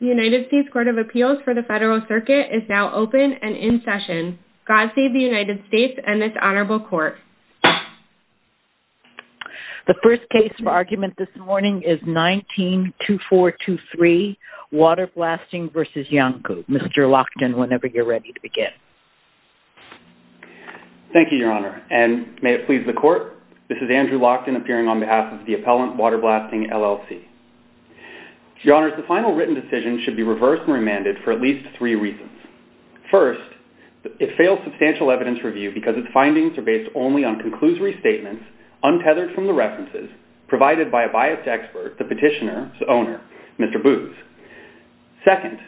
The United States Court of Appeals for the Federal Circuit is now open and in session. God save the United States and this honorable court. The first case for argument this morning is 19-2423, Waterblasting v. Iancu. Mr. Lockton, whenever you're ready to begin. Thank you, Your Honor, and may it please the court, this is Andrew Lockton appearing on behalf of the appellant, Waterblasting, LLC. Your Honor, the final written decision should be reversed and remanded for at least three reasons. First, it fails substantial evidence review because its findings are based only on conclusory statements, untethered from the references, provided by a biased expert, the petitioner's owner, Mr. Booz. Second,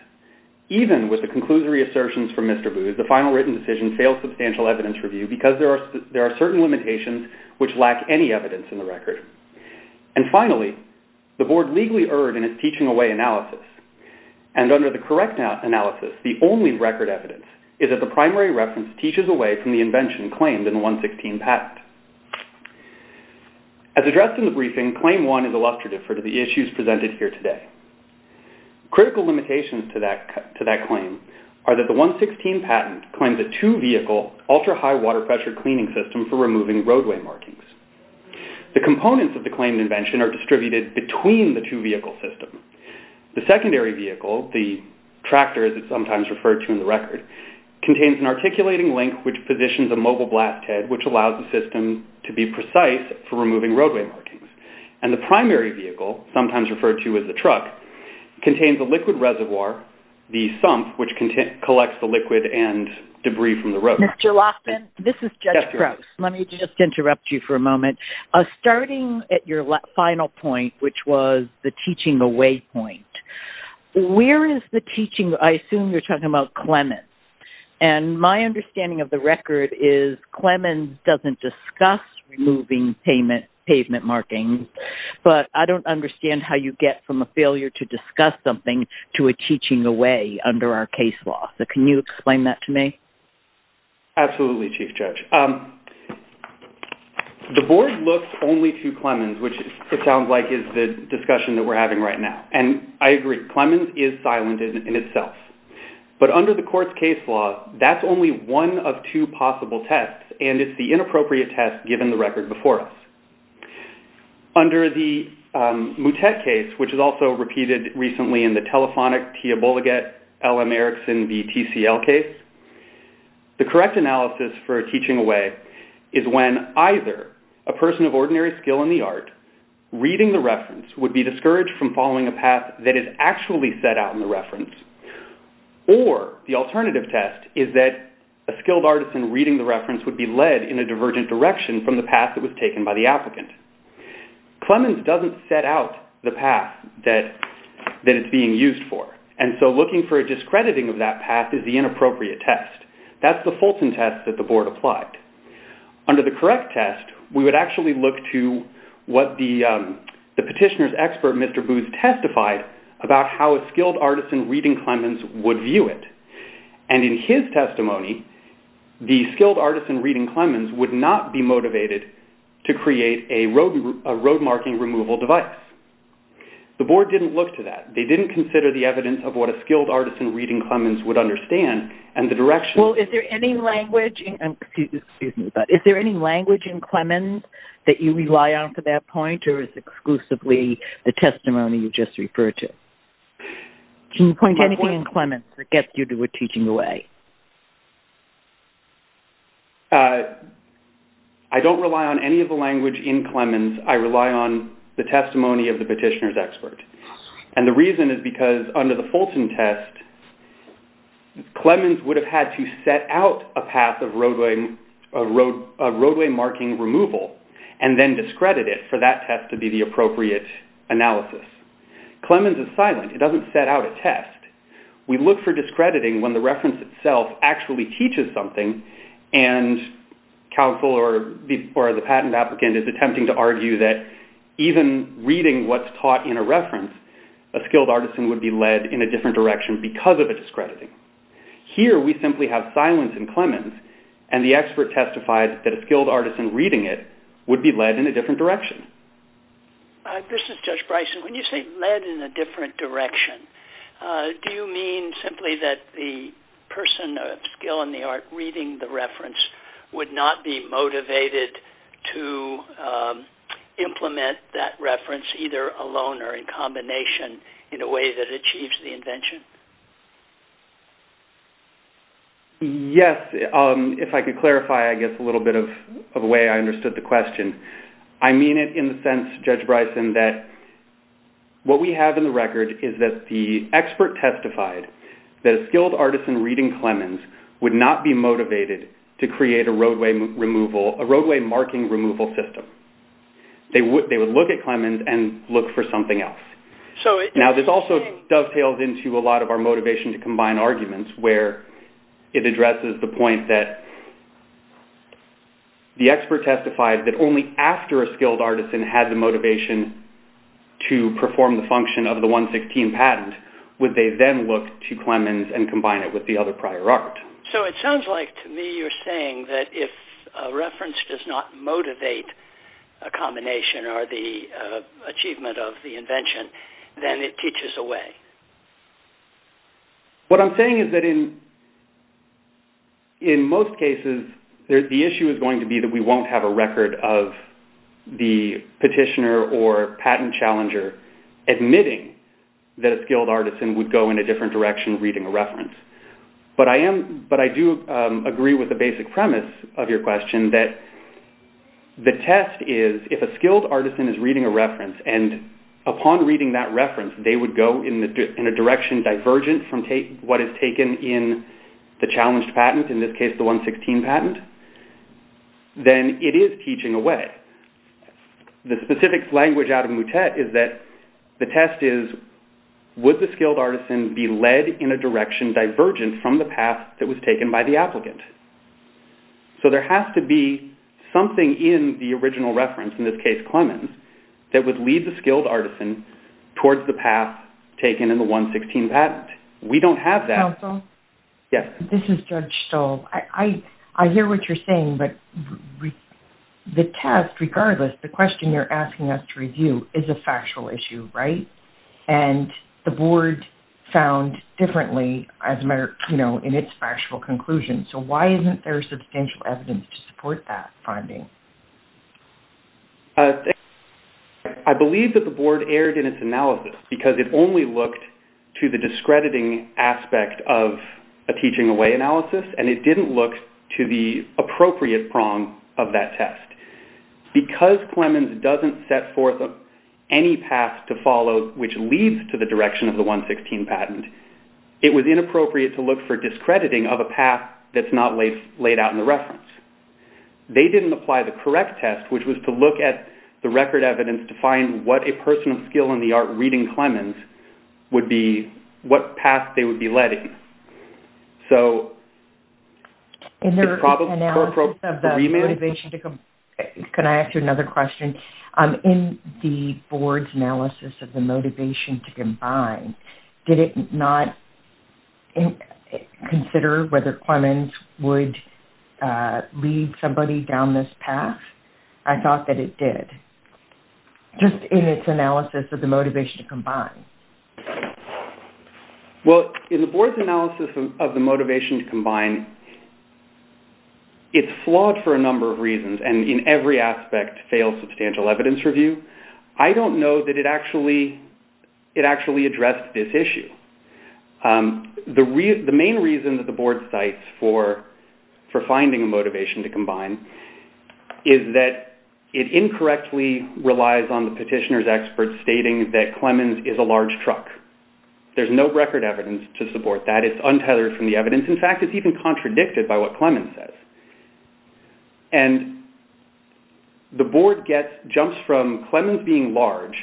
even with the conclusory assertions from Mr. Booz, the final written decision fails substantial evidence review because there are certain limitations which lack any evidence in the record. And finally, the board legally erred in its teaching away analysis, and under the correct analysis, the only record evidence is that the primary reference teaches away from the invention claimed in the 116 patent. As addressed in the briefing, Claim 1 is illustrative for the issues presented here today. Critical limitations to that claim are that the 116 patent claims a two-vehicle, ultra-high water pressure cleaning system for removing roadway markings. The components of the claimed invention are distributed between the two-vehicle system. The secondary vehicle, the tractor as it's sometimes referred to in the record, contains an articulating link which positions a mobile blast head which allows the system to be precise for removing roadway markings. And the primary vehicle, sometimes referred to as the truck, contains a liquid reservoir, the sump, which collects the liquid and debris from the road. Mr. Laughlin, this is Judge Crouse. Let me just interrupt you for a moment. Starting at your final point, which was the teaching away point, where is the teaching, I assume you're talking about Clemens. And my understanding of the record is Clemens doesn't discuss removing pavement markings, but I don't understand how you get from a failure to discuss something to a teaching away under our case law. So can you explain that to me? Absolutely, Chief Judge. The board looks only to Clemens, which it sounds like is the discussion that we're having right now. And I agree, Clemens is silent in itself. But under the court's case law, that's only one of two possible tests, and it's the inappropriate test given the record before us. Under the Moutet case, which is also repeated recently in the telephonic Tia Bullegat L.M. Erickson v. TCL case, the correct analysis for a teaching away is when either a person of ordinary skill in the art reading the reference would be discouraged from following a path that is actually set out in the reference, or the alternative test is that a skilled artisan reading the reference would be led in a divergent direction from the path that was taken by the applicant. Clemens doesn't set out the path that it's being used for, and so looking for a discrediting of that path is the inappropriate test. That's the Fulton test that the board applied. Under the correct test, we would actually look to what the petitioner's expert, Mr. Booth, testified about how a skilled artisan reading Clemens would view it. In his testimony, the skilled artisan reading Clemens would not be motivated to create a road marking removal device. The board didn't look to that. They didn't consider the evidence of what a skilled artisan reading Clemens would understand and the direction. Is there any language in Clemens that you rely on for that point, or is it exclusively the testimony you just referred to? Can you point anything in Clemens that gets you to a teaching away? I don't rely on any of the language in Clemens. I rely on the testimony of the petitioner's expert, and the reason is because under the Fulton test, Clemens would have had to set out a path of roadway marking removal and then discredit it for that test to be the appropriate analysis. Clemens is silent. It doesn't set out a test. We look for discrediting when the reference itself actually teaches something, and counsel or the patent applicant is attempting to argue that even reading what's taught in a reference, a skilled artisan would be led in a different direction because of a discrediting. Here, we simply have silence in Clemens, and the expert testified that a skilled artisan reading it would be led in a different direction. This is Judge Bryson. When you say led in a different direction, do you mean simply that the person of skill in the art reading the reference would not be motivated to implement that reference either alone or in combination in a way that achieves the invention? Yes. If I could clarify, I guess, a little bit of the way I understood the question. I mean it in the sense, Judge Bryson, that what we have in the record is that the expert testified that a skilled artisan reading Clemens would not be motivated to create a roadway marking removal system. They would look at Clemens and look for something else. Now, this also dovetails into a lot of our motivation to combine arguments, where it addresses the point that the expert testified that only after a skilled artisan had the motivation to perform the function of the 116 patent would they then look to Clemens and combine it with the other prior art. So it sounds like to me you're saying that if a reference does not motivate a combination or the achievement of the invention, then it teaches away. What I'm saying is that in most cases the issue is going to be that we won't have a record of the petitioner or patent challenger admitting that a skilled artisan would go in a different direction reading a reference. But I do agree with the basic premise of your question that the test is if a skilled artisan is reading a reference and upon reading that reference they would go in a direction divergent from what is taken in the challenged patent, in this case the 116 patent, then it is teaching away. The specific language out of Moutet is that the test is would the skilled artisan be led in a direction divergent from the path that was taken by the applicant. So there has to be something in the original reference, in this case Clemens, that would lead the skilled artisan towards the path taken in the 116 patent. We don't have that. This is Judge Stoll. I hear what you're saying, but the test, regardless, the question you're asking us to review is a factual issue, right? And the board found differently in its factual conclusion. So why isn't there substantial evidence to support that finding? I believe that the board erred in its analysis because it only looked to the discrediting aspect of a teaching away analysis and it didn't look to the appropriate prong of that test. Because Clemens doesn't set forth any path to follow which leads to the direction of the 116 patent, it was inappropriate to look for discrediting of a path that's not laid out in the reference. They didn't apply the correct test which was to look at the record evidence to find what a person of skill in the art reading Clemens would be, what path they would be leading. So... In their analysis of the motivation to combine... Can I ask you another question? In the board's analysis of the motivation to combine, did it not consider whether Clemens would lead somebody down this path? I thought that it did. Just in its analysis of the motivation to combine. Well, in the board's analysis of the motivation to combine, it's flawed for a number of reasons and in every aspect fails substantial evidence review. I don't know that it actually addressed this issue. The main reason that the board cites for finding a motivation to combine is that it incorrectly relies on the petitioner's expert stating that Clemens is a large truck. There's no record evidence to support that. It's untethered from the evidence. In fact, it's even contradicted by what Clemens says. And the board jumps from Clemens being large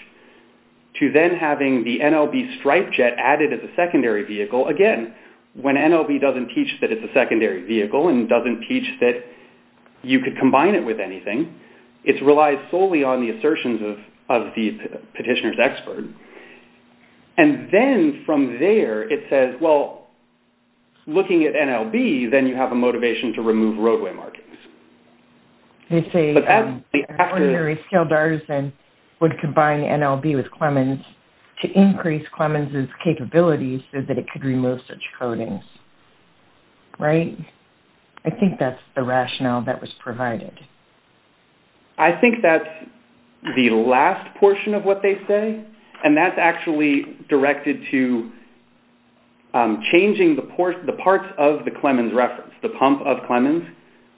to then having the NLB stripe jet added as a secondary vehicle. Again, when NLB doesn't teach that it's a secondary vehicle and doesn't teach that you could combine it with anything, it relies solely on the assertions of the petitioner's expert. And then from there, it says, well, looking at NLB, then you have a motivation to remove roadway markings. They say an ordinary skilled artisan would combine NLB with Clemens to increase Clemens' capabilities so that it could remove such coatings. Right? I think that's the rationale that was provided. I think that's the last portion of what they say. And that's actually directed to changing the parts of the Clemens reference, the pump of Clemens,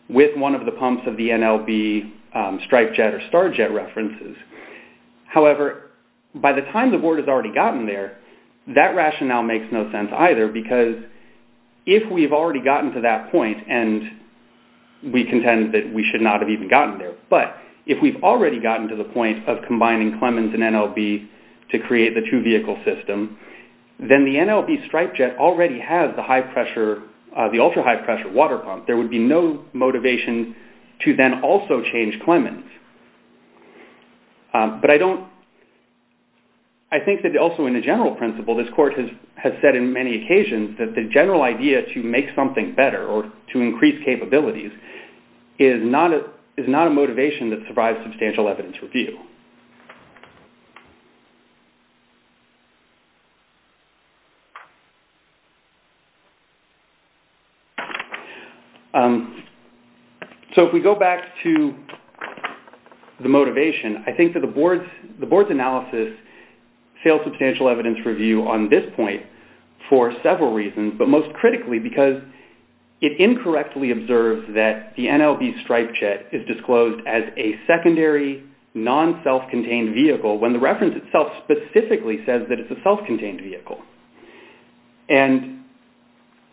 with one of the pumps of the NLB stripe jet or star jet references. However, by the time the board has already gotten there, that rationale makes no sense either, because if we've already gotten to that point, and we contend that we should not have even gotten there, but if we've already gotten to the point of combining Clemens and NLB to create the two-vehicle system, then the NLB stripe jet already has the ultra-high pressure water pump. There would be no motivation to then also change Clemens. But I think that also in the general principle, this court has said in many occasions that the general idea to make something better or to increase capabilities is not a motivation that survives substantial evidence review. So if we go back to the motivation, I think that the board's analysis fails substantial evidence review on this point for several reasons, but most critically because it incorrectly observes that the NLB stripe jet is disclosed as a secondary, non-self-contained vehicle when the reference itself specifically says that it's a self-contained vehicle. And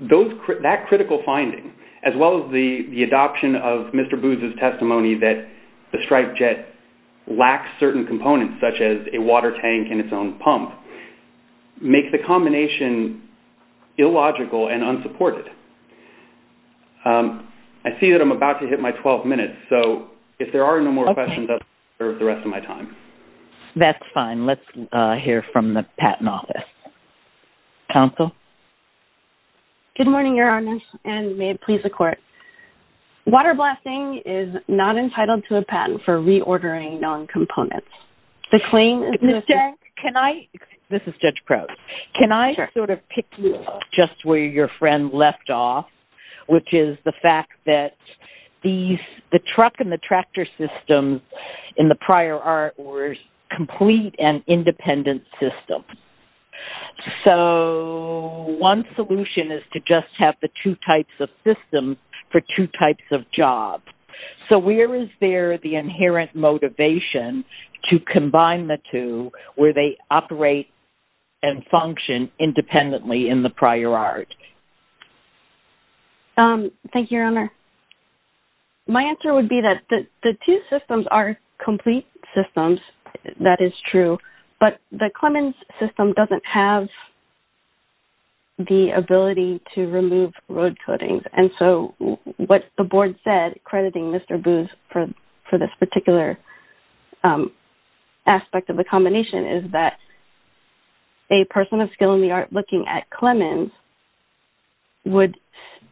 that critical finding, as well as the adoption of Mr. Booz's testimony that the stripe jet lacks certain components, such as a water tank and its own pump, make the combination illogical and unsupported. I see that I'm about to hit my 12 minutes, so if there are no more questions, I'll leave you there for the rest of my time. That's fine. Let's hear from the Patent Office. Counsel? Good morning, Your Honor, and may it please the court. Water blasting is not entitled to a patent for reordering non-components. Ms. Cenk, can I? This is Judge Crow. Can I sort of pick you up just where your friend left off, which is the fact that the truck and the tractor systems in the prior art were complete and independent systems. So one solution is to just have the two types of systems for two types of jobs. So where is there the inherent motivation to combine the two where they operate and function independently in the prior art? Thank you, Your Honor. My answer would be that the two systems are complete systems, that is true, but the Clemens system doesn't have the ability to remove road coatings. And so what the board said, crediting Mr. Booz for this particular aspect of the combination, is that a person of skill in the art looking at Clemens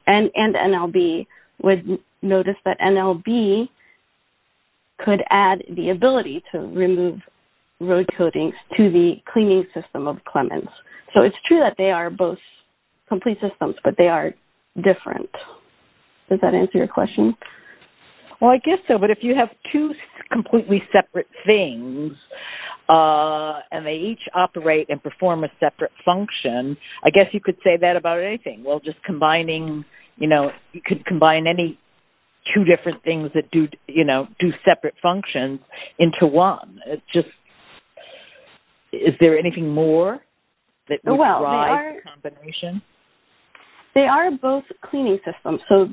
and NLB would notice that NLB could add the ability to remove road coatings to the cleaning system of Clemens. So it's true that they are both complete systems, but they are different. Does that answer your question? Well, I guess so, but if you have two completely separate things and they each operate and perform a separate function, I guess you could say that about anything. Well, just combining, you know, you could combine any two different things that do separate functions into one. Is there anything more that would drive the combination? They are both cleaning systems, so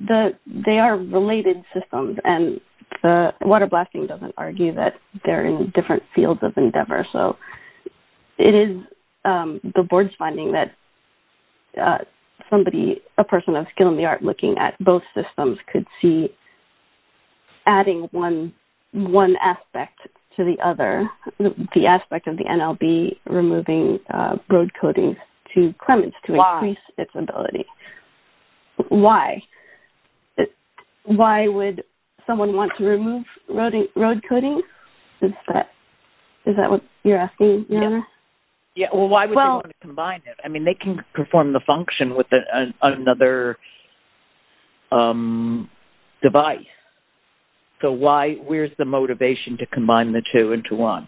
they are related systems. And water blasting doesn't argue that they're in different fields of endeavor. So it is the board's finding that somebody, a person of skill in the art looking at both systems, could see adding one aspect to the other, the aspect of the NLB removing road coatings to Clemens to increase its ability. Why? Why would someone want to remove road coatings? Is that what you're asking? Yeah. Well, why would they want to combine it? I mean, they can perform the function with another device. So why, where's the motivation to combine the two into one?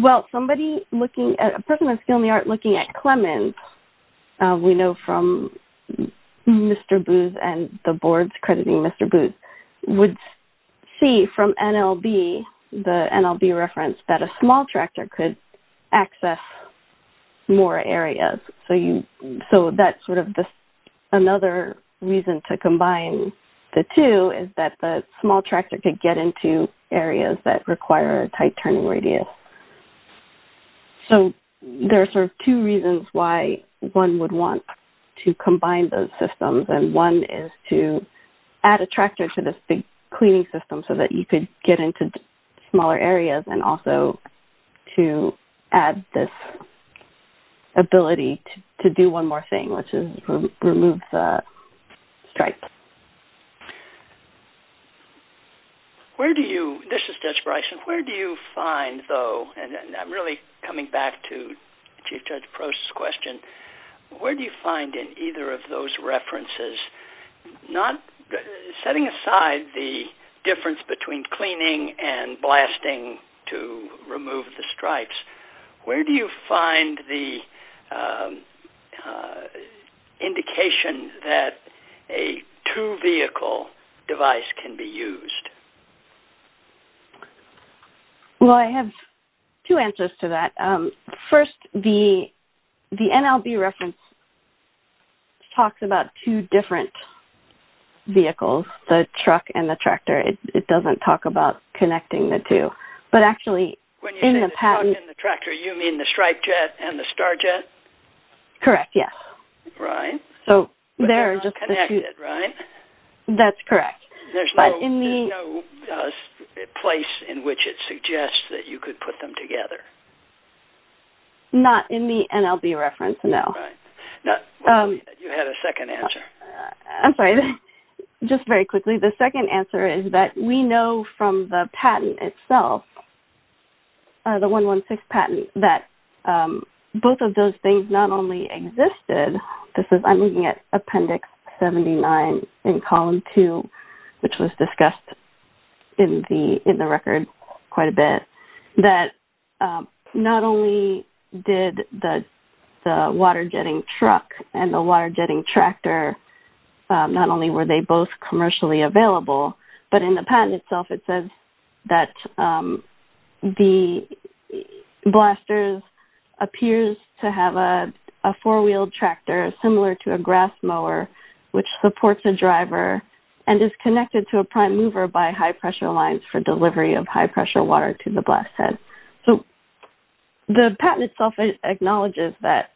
Well, somebody looking at, a person of skill in the art looking at Clemens, we know from Mr. Booth and the boards crediting Mr. Booth, would see from NLB, the NLB reference, that a small tractor could access more areas. So that's sort of another reason to combine the two, is that the small tractor could get into areas that require a tight turning radius. So there are sort of two reasons why one would want to combine those systems. And one is to add a tractor to this big cleaning system so that you could get into smaller areas and also to add this ability to do one more thing, which is remove the stripes. Where do you, this is Judge Bryson, where do you find though, and I'm really coming back to Chief Judge Prost's question, where do you find in either of those references, setting aside the difference between cleaning and blasting to remove the stripes, where do you find the indication that a two vehicle device can be used? Well, I have two answers to that. First, the NLB reference talks about two different vehicles, the truck and the tractor. It doesn't talk about connecting the two. When you say the truck and the tractor, you mean the stripe jet and the star jet? Correct, yes. But they're not connected, right? That's correct. There's no place in which it suggests that you could put them together. Not in the NLB reference, no. You had a second answer. I'm sorry, just very quickly. The second answer is that we know from the patent itself, the 116 patent, that both of those things not only existed, I'm looking at Appendix 79 in Column 2, which was discussed in the record quite a bit, that not only did the water jetting truck and the water jetting tractor, not only were they both commercially available, but in the patent itself it says that the Blasters appears to have a four-wheeled tractor similar to a grass mower, which supports a driver and is connected to a prime mover by high-pressure lines for delivery of high-pressure water to the blast head. So the patent itself acknowledges that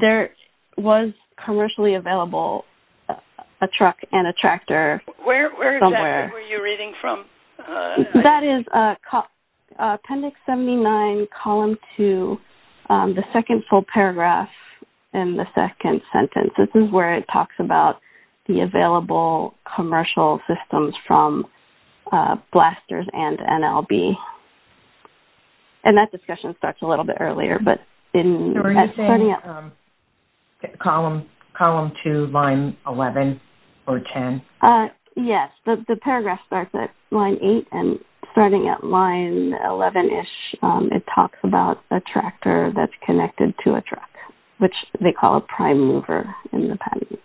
there was commercially available a truck and a tractor somewhere. Where exactly were you reading from? That is Appendix 79, Column 2, the second full paragraph in the second sentence. This is where it talks about the available commercial systems from Blasters and NLB. And that discussion starts a little bit earlier. Are you saying Column 2, Line 11 or 10? Yes, the paragraph starts at Line 8 and starting at Line 11-ish, it talks about a tractor that's connected to a truck, which they call a prime mover in the patent.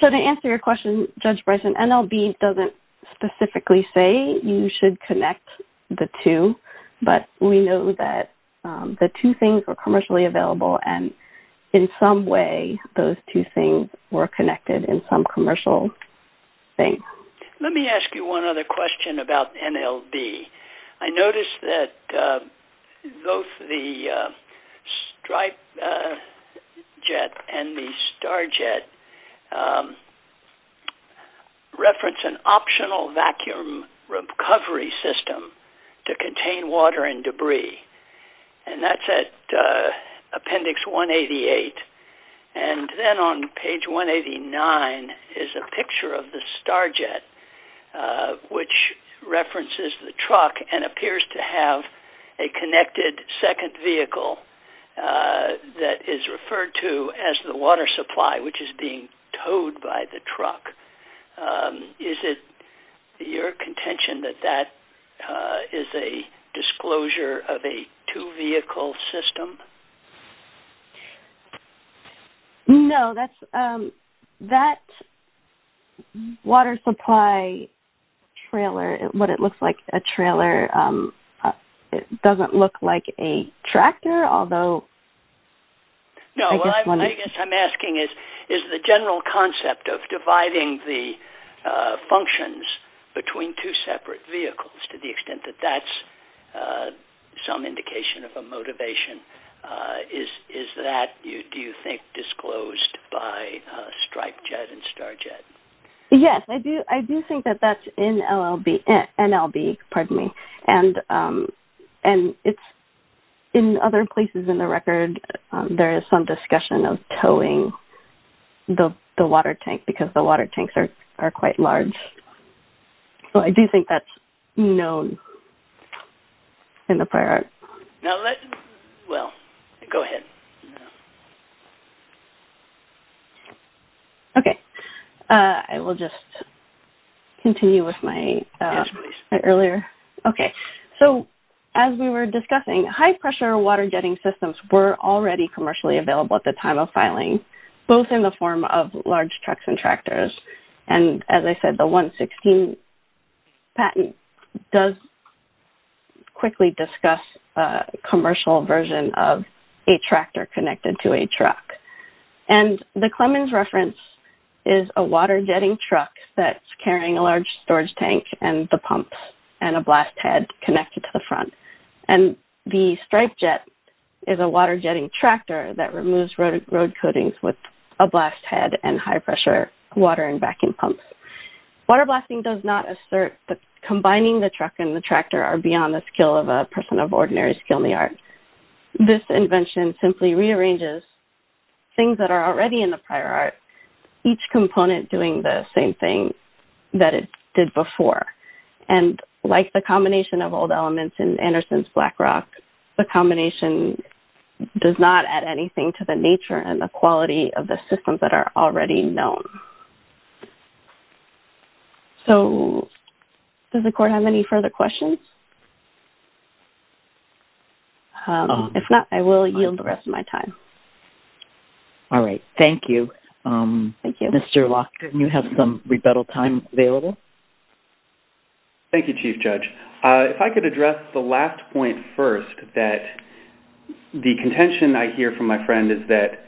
So to answer your question, Judge Bryson, NLB doesn't specifically say you should connect the two, but we know that the two things were commercially available and in some way those two things were connected in some commercial thing. Let me ask you one other question about NLB. I noticed that both the Stripe Jet and the Star Jet reference an optional vacuum recovery system to contain water and debris. And that's at Appendix 188. And then on Page 189 is a picture of the Star Jet, which references the truck and appears to have a connected second vehicle that is referred to as the water supply, which is being towed by the truck. Is it your contention that that is a disclosure of a two-vehicle system? No, that water supply trailer, what it looks like a trailer, it doesn't look like a tractor, although... No, what I guess I'm asking is the general concept of dividing the functions between two separate vehicles to the extent that that's some indication of a motivation, is that, do you think, disclosed by Stripe Jet and Star Jet? Yes, I do think that that's NLB. And in other places in the record there is some discussion of towing the water tank because the water tanks are quite large. So I do think that's known in the prior... Well, go ahead. Okay, I will just continue with my earlier... Okay, so as we were discussing, high-pressure water jetting systems were already commercially available at the time of filing, both in the form of large trucks and tractors. And as I said, the 116 patent does quickly discuss a commercial version of a tractor connected to a truck. And the Clemens reference is a water jetting truck that's carrying a large storage tank and the pumps and a blast head connected to the front. And the Stripe Jet is a water jetting tractor that removes road coatings with a blast head and high-pressure water and vacuum pumps. Water blasting does not assert that combining the truck and the tractor are beyond the skill of a person of ordinary skill in the art. This invention simply rearranges things that are already in the prior art, each component doing the same thing that it did before. And like the combination of old elements in Anderson's Black Rock, the combination does not add anything to the nature and the quality of the systems that are already known. So, does the court have any further questions? If not, I will yield the rest of my time. All right. Thank you. Thank you. Mr. Locke, didn't you have some rebuttal time available? Thank you, Chief Judge. If I could address the last point first, that the contention I hear from my friend is that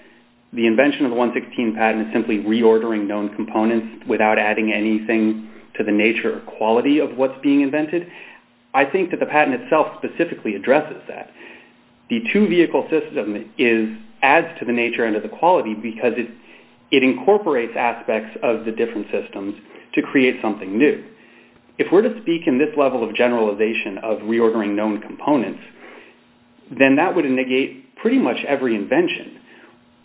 the invention of the 116 patent is simply reordering known components without adding anything to the nature or quality of what's being invented. I think that the patent itself specifically addresses that. The two-vehicle system adds to the nature and to the quality because it incorporates aspects of the different systems to create something new. If we're to speak in this level of generalization of reordering known components, then that would negate pretty much every invention.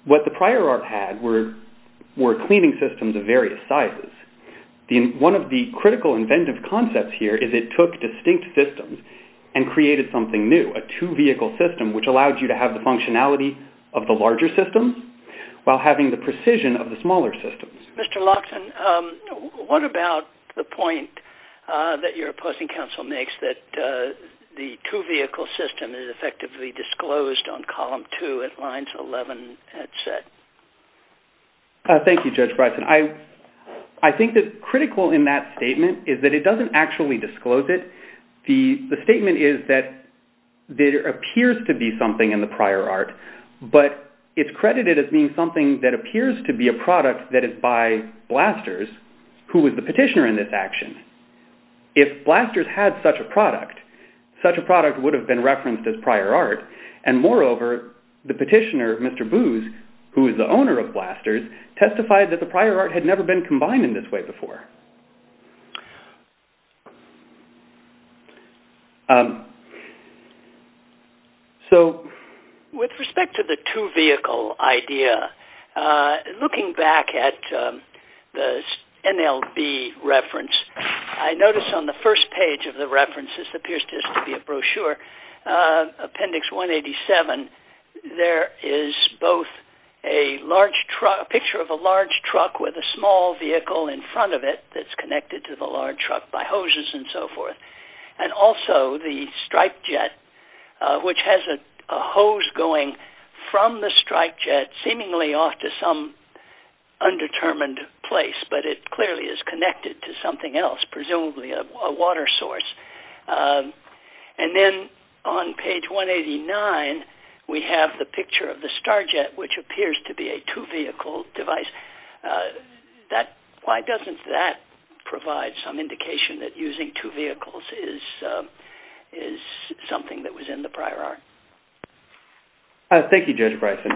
What the prior art had were cleaning systems of various sizes. One of the critical inventive concepts here is it took distinct systems and created something new, a two-vehicle system, which allowed you to have the functionality of the larger systems while having the precision of the smaller systems. Mr. Lockson, what about the point that your opposing counsel makes that the two-vehicle system is effectively disclosed on column two at lines 11 and set? Thank you, Judge Bryson. I think that critical in that statement is that it doesn't actually disclose it. The statement is that there appears to be something in the prior art, but it's credited as being something that appears to be a product by Blasters, who was the petitioner in this action. If Blasters had such a product, such a product would have been referenced as prior art. Moreover, the petitioner, Mr. Booz, who is the owner of Blasters, testified that the prior art had never been combined in this way before. With respect to the two-vehicle idea, looking back at the NLB reference, I notice on the first page of the reference, this appears to be a brochure, appendix 187, there is both a large truck, a picture of a large truck with a small vehicle in front of it that's connected to the large truck by hoses and so forth, and also the stripe jet, which has a hose going from the stripe jet, seemingly off to some undetermined place, but it clearly is connected to something else, presumably a water source. And then on page 189, we have the picture of the star jet, which appears to be a two-vehicle device. Why doesn't that provide some indication that using two vehicles is something that was in the prior art? Thank you, Judge Bryson.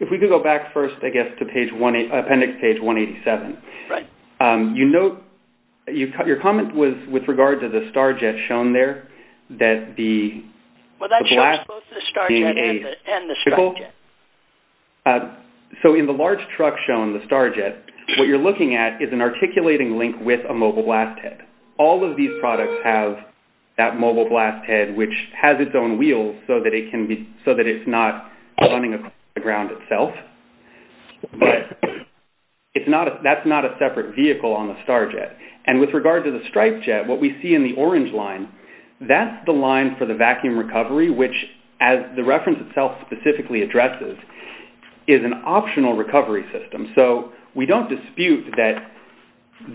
If we could go back first, I guess, to appendix page 187. Your comment was with regard to the star jet shown there. Well, that shows both the star jet and the stripe jet. So in the large truck shown, the star jet, what you're looking at is an articulating link with a mobile blast head. All of these products have that mobile blast head, which has its own wheels so that it's not running across the ground itself. But that's not a separate vehicle on the star jet. And with regard to the stripe jet, what we see in the orange line, that's the line for the vacuum recovery, which, as the reference itself specifically addresses, is an optional recovery system. So we don't dispute that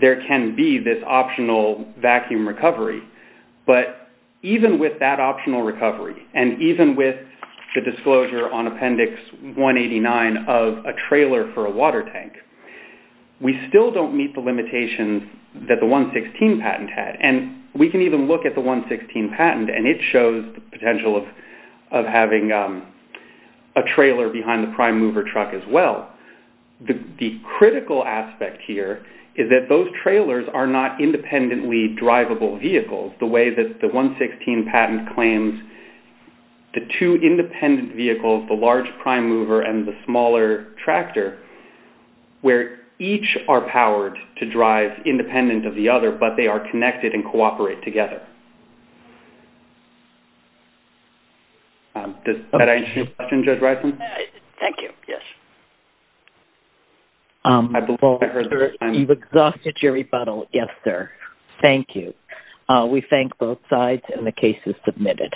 there can be this optional vacuum recovery. But even with that optional recovery, and even with the disclosure on appendix 189 of a trailer for a water tank, we still don't meet the limitations that the 116 patent had. And we can even look at the 116 patent, and it shows the potential of having a trailer behind the prime mover truck as well. The critical aspect here is that those trailers are not independently drivable vehicles, the way that the 116 patent claims the two independent vehicles, the large prime mover and the smaller tractor, where each are powered to drive independent of the other, but they are connected and cooperate together. Did I answer your question, Judge Rison? Thank you. Yes. You've exhausted your rebuttal. Yes, sir. Thank you. We thank both sides, and the case is submitted.